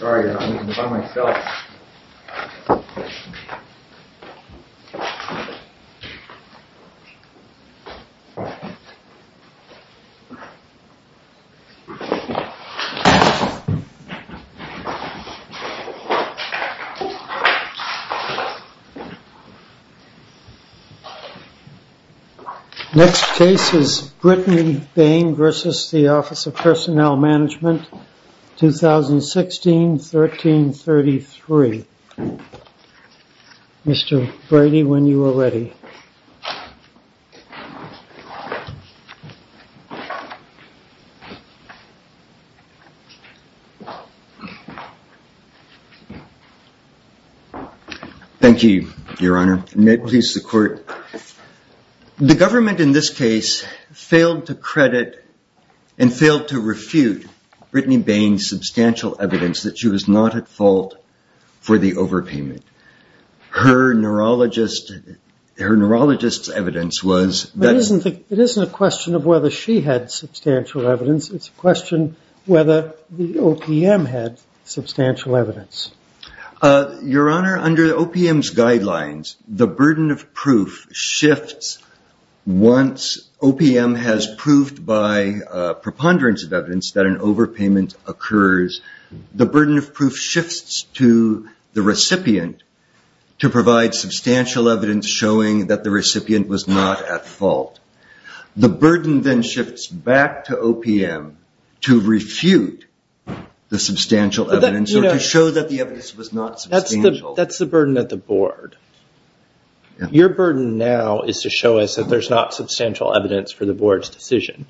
Sorry, I'm eating by myself Next case is Brittany Bain vs. the Office of Personnel Management, 2016-1333. Mr. Brady, when you are ready. Thank you, your honor. May it please the court. The government in this case failed to credit and failed to refute Brittany Bain's substantial evidence that she was not at fault for the overpayment. Her neurologist's evidence was... It isn't a question of whether she had substantial evidence, it's a question of whether the OPM had substantial evidence. Your honor, under OPM's guidelines, the burden of proof shifts once OPM has proved by preponderance of evidence that an overpayment occurs. The burden of proof shifts to the recipient to provide substantial evidence showing that the recipient was not at fault. The burden then shifts back to OPM to refute the substantial evidence or to show that the evidence was not substantial. That's the burden at the board. Your burden now is to show us that there's not substantial evidence for the board's decision.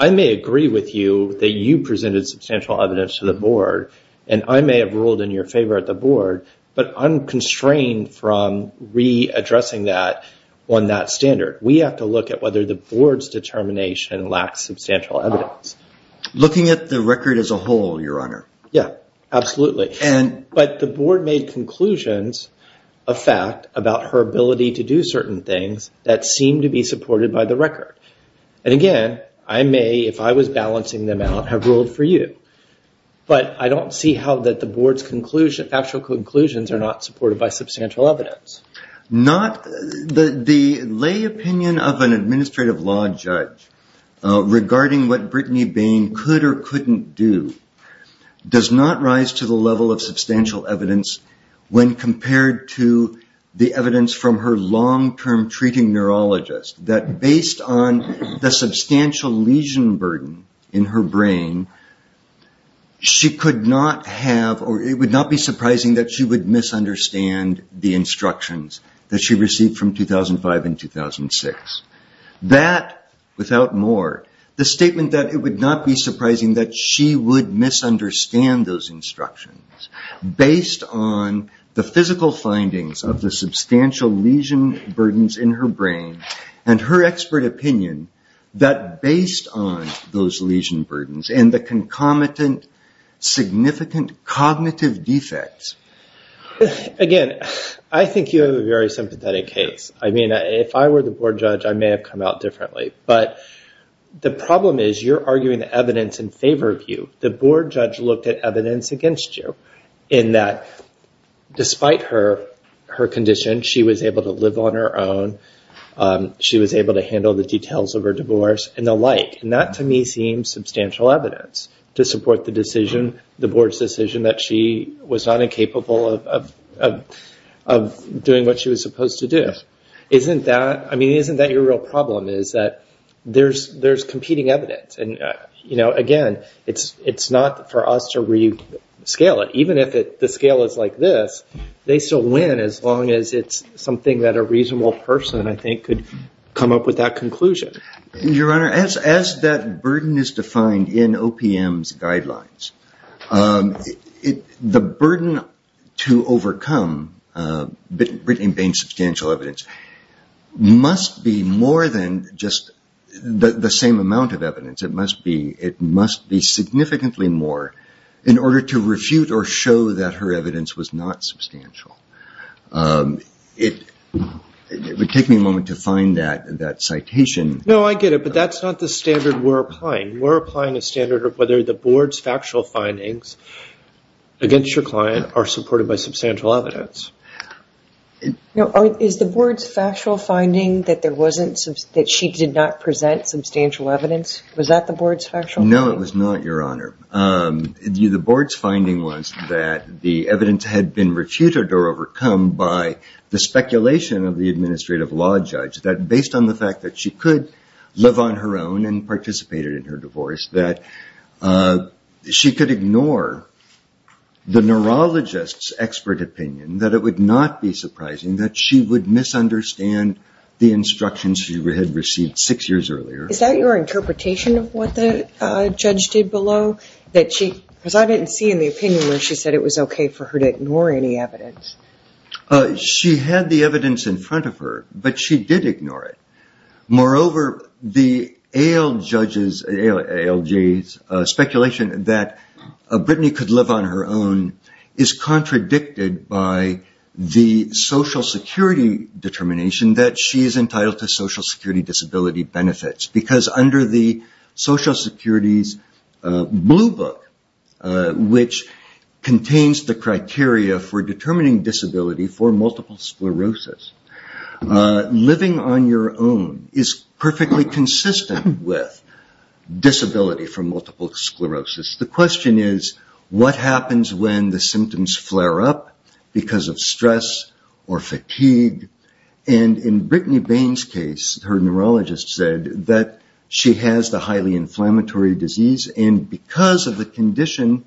I may agree with you that you presented substantial evidence to the board, and I may have ruled in your favor at the board, but I'm constrained from re-addressing that on that standard. We have to look at whether the board's determination lacks substantial evidence. Looking at the record as a whole, your honor. Yeah, absolutely. But the board made conclusions, a fact, about her ability to do certain things that seemed to be supported by the record. And again, I may, if I was balancing them out, have ruled for you. But I don't see how the board's factual conclusions are not supported by substantial evidence. The lay opinion of an administrative law judge regarding what Brittany Bain could or couldn't do does not rise to the level of substantial evidence when compared to the evidence from her long-term treating neurologist. That based on the substantial lesion burden in her brain, it would not be surprising that she would misunderstand the instructions that she received from 2005 and 2006. That, without more, the statement that it would not be surprising that she would misunderstand those instructions based on the physical findings of the substantial lesion burdens in her brain, and her expert opinion that based on those lesion burdens and the concomitant significant cognitive defects. Again, I think you have a very sympathetic case. I mean, if I were the board judge, I may have come out differently. But the problem is you're arguing the evidence in favor of you. The board judge looked at evidence against you in that despite her condition, she was able to live on her own. She was able to handle the details of her divorce and the like. And that, to me, seems substantial evidence to support the board's decision that she was not incapable of doing what she was supposed to do. I mean, isn't that your real problem is that there's competing evidence? And again, it's not for us to rescale it. Even if the scale is like this, they still win as long as it's something that a reasonable person, I think, could come up with that conclusion. Your Honor, as that burden is defined in OPM's guidelines, the burden to overcome in Bain's substantial evidence must be more than just the same amount of evidence. It must be significantly more in order to refute or show that her evidence was not substantial. It would take me a moment to find that citation. No, I get it. But that's not the standard we're applying. We're applying a standard of whether the board's factual findings against your client are supported by substantial evidence. Is the board's factual finding that she did not present substantial evidence? Was that the board's factual finding? No, it was not, Your Honor. The board's finding was that the evidence had been refuted or overcome by the speculation of the administrative law judge that, based on the fact that she could live on her own and participated in her divorce, that she could ignore the neurologist's expert opinion, that it would not be surprising that she would misunderstand the instructions she had received six years earlier. Is that your interpretation of what the judge did below? Because I didn't see in the opinion where she said it was okay for her to ignore any evidence. She had the evidence in front of her, but she did ignore it. Moreover, the ALJ's speculation that Brittany could live on her own is contradicted by the Social Security determination that she is entitled to Social Security disability benefits. Because under the Social Security's blue book, which contains the criteria for determining disability for multiple sclerosis, living on your own is perfectly consistent with disability for multiple sclerosis. The question is, what happens when the symptoms flare up because of stress or fatigue? In Brittany Bain's case, her neurologist said that she has the highly inflammatory disease, and because of her condition,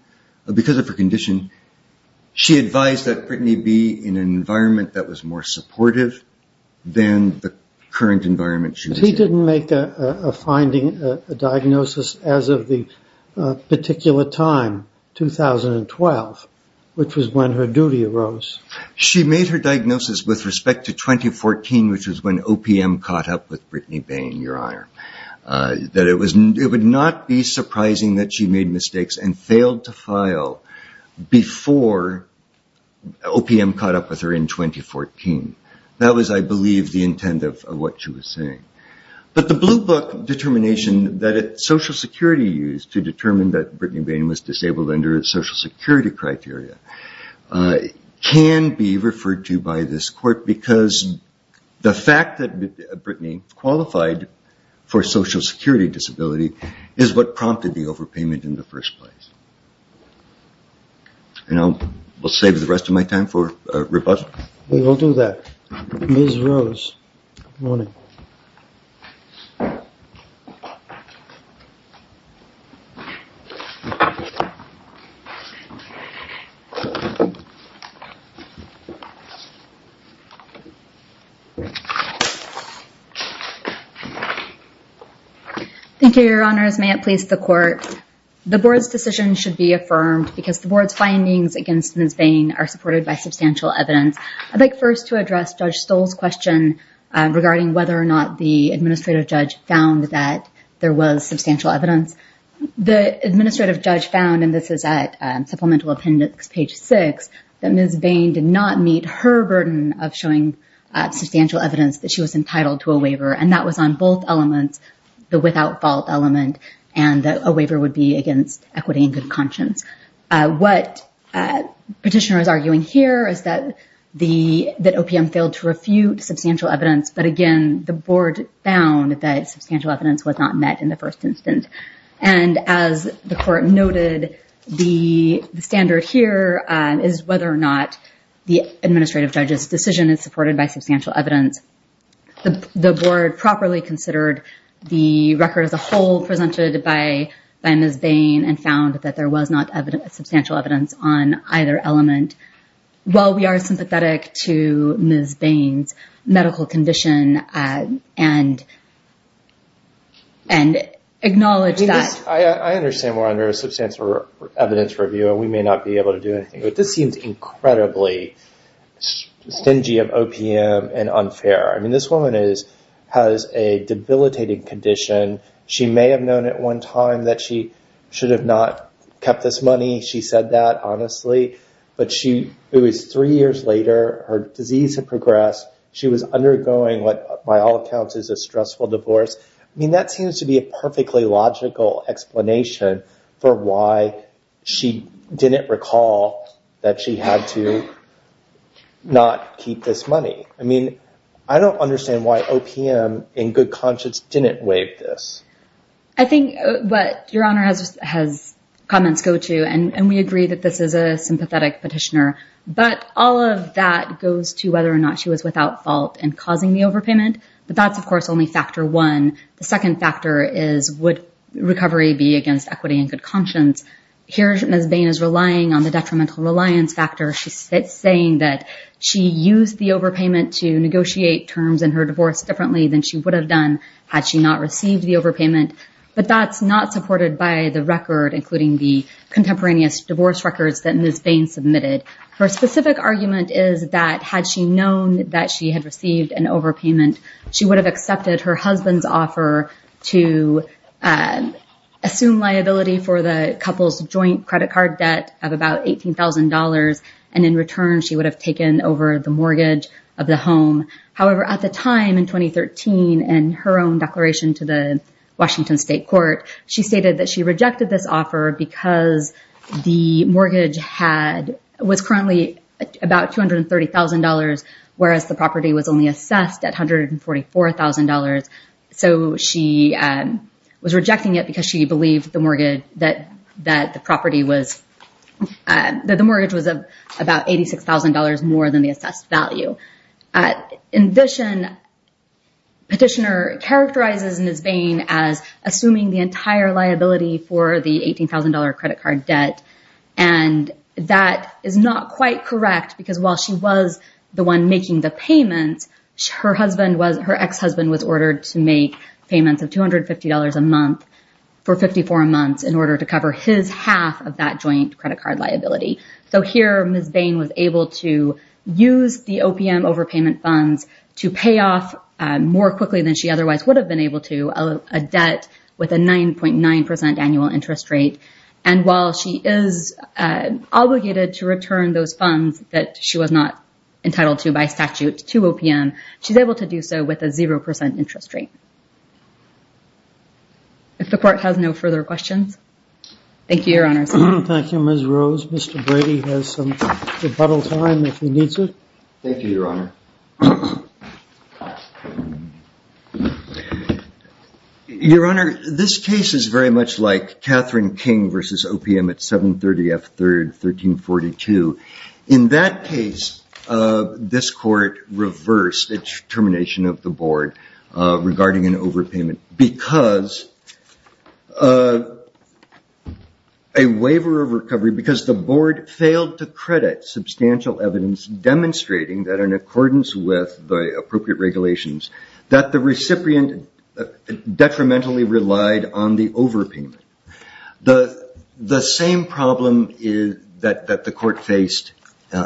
she advised that Brittany be in an environment that was more supportive than the current environment she was in. But he didn't make a finding, a diagnosis, as of the particular time, 2012, which was when her duty arose. She made her diagnosis with respect to 2014, which was when OPM caught up with Brittany Bain, Your Honor. It would not be surprising that she made mistakes and failed to file before OPM caught up with her in 2014. That was, I believe, the intent of what she was saying. But the blue book determination that Social Security used to determine that Brittany Bain was disabled under Social Security criteria can be referred to by this court because the fact that Brittany qualified for Social Security disability is what prompted the overpayment in the first place. And I'll save the rest of my time for rebuttal. We will do that. Ms. Rose, good morning. Thank you, Your Honors. May it please the Court. The Board's decision should be affirmed because the Board's findings against Ms. Bain are supported by substantial evidence. I'd like first to address Judge Stoll's question regarding whether or not the administrative judge found that there was substantial evidence. The administrative judge found, and this is at Supplemental Appendix, page 6, that Ms. Bain did not meet her burden of showing substantial evidence that she was entitled to a waiver, and that was on both elements, the without fault element and a waiver would be against equity and good conscience. What Petitioner is arguing here is that OPM failed to refute substantial evidence. But again, the Board found that substantial evidence was not met in the first instance. And as the Court noted, the standard here is whether or not the administrative judge's decision is supported by substantial evidence. The Board properly considered the record as a whole presented by Ms. Bain and found that there was not substantial evidence on either element. While we are sympathetic to Ms. Bain's medical condition and acknowledge that... I understand we're under a substantial evidence review and we may not be able to do anything, but this seems incredibly stingy of OPM and unfair. I mean, this woman has a debilitating condition. She may have known at one time that she should have not kept this money. She said that, honestly. But it was three years later, her disease had progressed. She was undergoing what, by all accounts, is a stressful divorce. I mean, that seems to be a perfectly logical explanation for why she didn't recall that she had to not keep this money. I mean, I don't understand why OPM, in good conscience, didn't waive this. I think what Your Honor has comments go to, and we agree that this is a sympathetic petitioner, but all of that goes to whether or not she was without fault in causing the overpayment. But that's, of course, only factor one. The second factor is, would recovery be against equity and good conscience? Here, Ms. Bain is relying on the detrimental reliance factor. She's saying that she used the overpayment to negotiate terms in her divorce differently than she would have done had she not received the overpayment. But that's not supported by the record, including the contemporaneous divorce records that Ms. Bain submitted. Her specific argument is that had she known that she had received an overpayment, she would have accepted her husband's offer to assume liability for the couple's joint credit card debt of about $18,000, and in return she would have taken over the mortgage of the home. However, at the time, in 2013, in her own declaration to the Washington State Court, she stated that she rejected this offer because the mortgage was currently about $230,000, whereas the property was only assessed at $144,000. So she was rejecting it because she believed that the mortgage was about $86,000 more than the assessed value. In addition, petitioner characterizes Ms. Bain as assuming the entire liability for the $18,000 credit card debt, and that is not quite correct because while she was the one making the payments, her ex-husband was ordered to make payments of $250 a month for 54 months in order to cover his half of that joint credit card liability. So here Ms. Bain was able to use the OPM overpayment funds to pay off more quickly than she otherwise would have been able to, a debt with a 9.9% annual interest rate. And while she is obligated to return those funds that she was not entitled to by statute to OPM, she's able to do so with a 0% interest rate. If the Court has no further questions. Thank you, Your Honors. Thank you, Ms. Rose. Mr. Brady has some rebuttal time if he needs it. Thank you, Your Honor. Your Honor, this case is very much like Catherine King v. OPM at 730 F. 3rd, 1342. In that case, this Court reversed its termination of the board regarding an overpayment because a waiver of recovery because the board failed to credit substantial evidence demonstrating that in accordance with the appropriate regulations that the recipient detrimentally relied on the overpayment. The same problem that the Court faced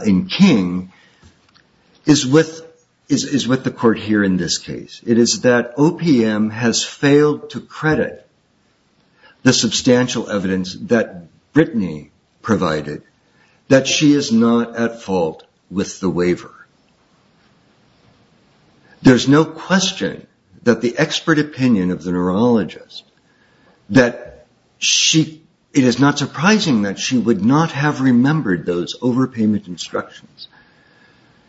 in King is with the Court here in this case. It is that OPM has failed to credit the substantial evidence that Brittany provided that she is not at fault with the waiver. There's no question that the expert opinion of the neurologist, that it is not surprising that she would not have remembered those overpayment instructions.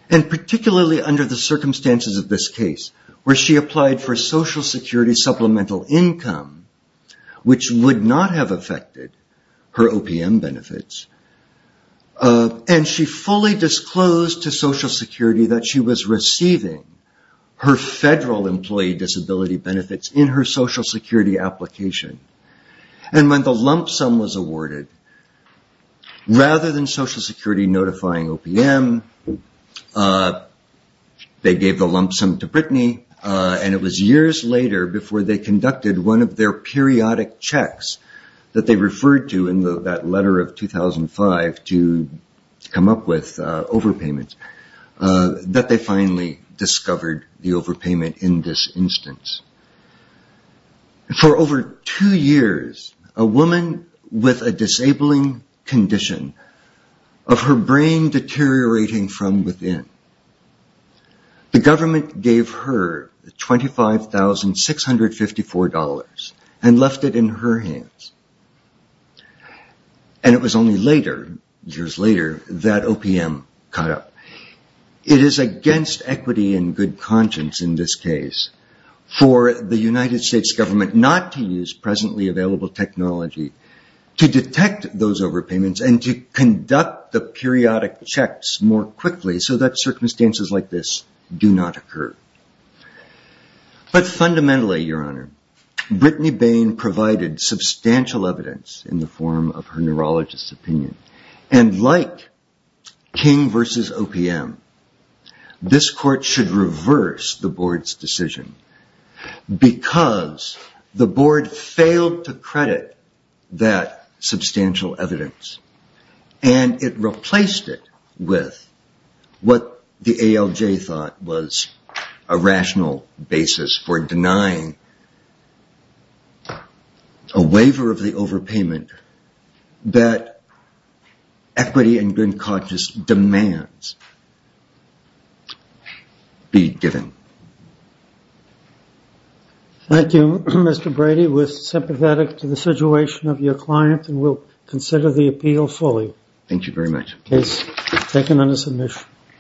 Particularly under the circumstances of this case where she applied for Social Security Supplemental Income, which would not have affected her OPM benefits. She fully disclosed to Social Security that she was receiving her federal employee disability benefits in her Social Security application. When the lump sum was awarded, rather than Social Security notifying OPM, they gave the lump sum to Brittany and it was years later before they conducted one of their periodic checks that they referred to in that letter of 2005 to come up with overpayments, that they finally discovered the overpayment in this instance. For over two years, a woman with a disabling condition of her brain deteriorating from within, the government gave her $25,654 and left it in her hands. And it was only later, years later, that OPM caught up. It is against equity and good conscience in this case for the United States government not to use presently available technology to detect those overpayments and to conduct the periodic checks more quickly so that circumstances like this do not occur. But fundamentally, your honor, Brittany Bain provided substantial evidence in the form of her neurologist's opinion. And like King versus OPM, this court should reverse the board's decision because the board failed to credit that substantial evidence and it replaced it with what the ALJ thought was a rational basis for denying a waiver of the overpayment that equity and good conscience demands be given. Thank you, Mr. Brady. We're sympathetic to the situation of your client and will consider the appeal fully. Thank you very much. Case is taken under submission.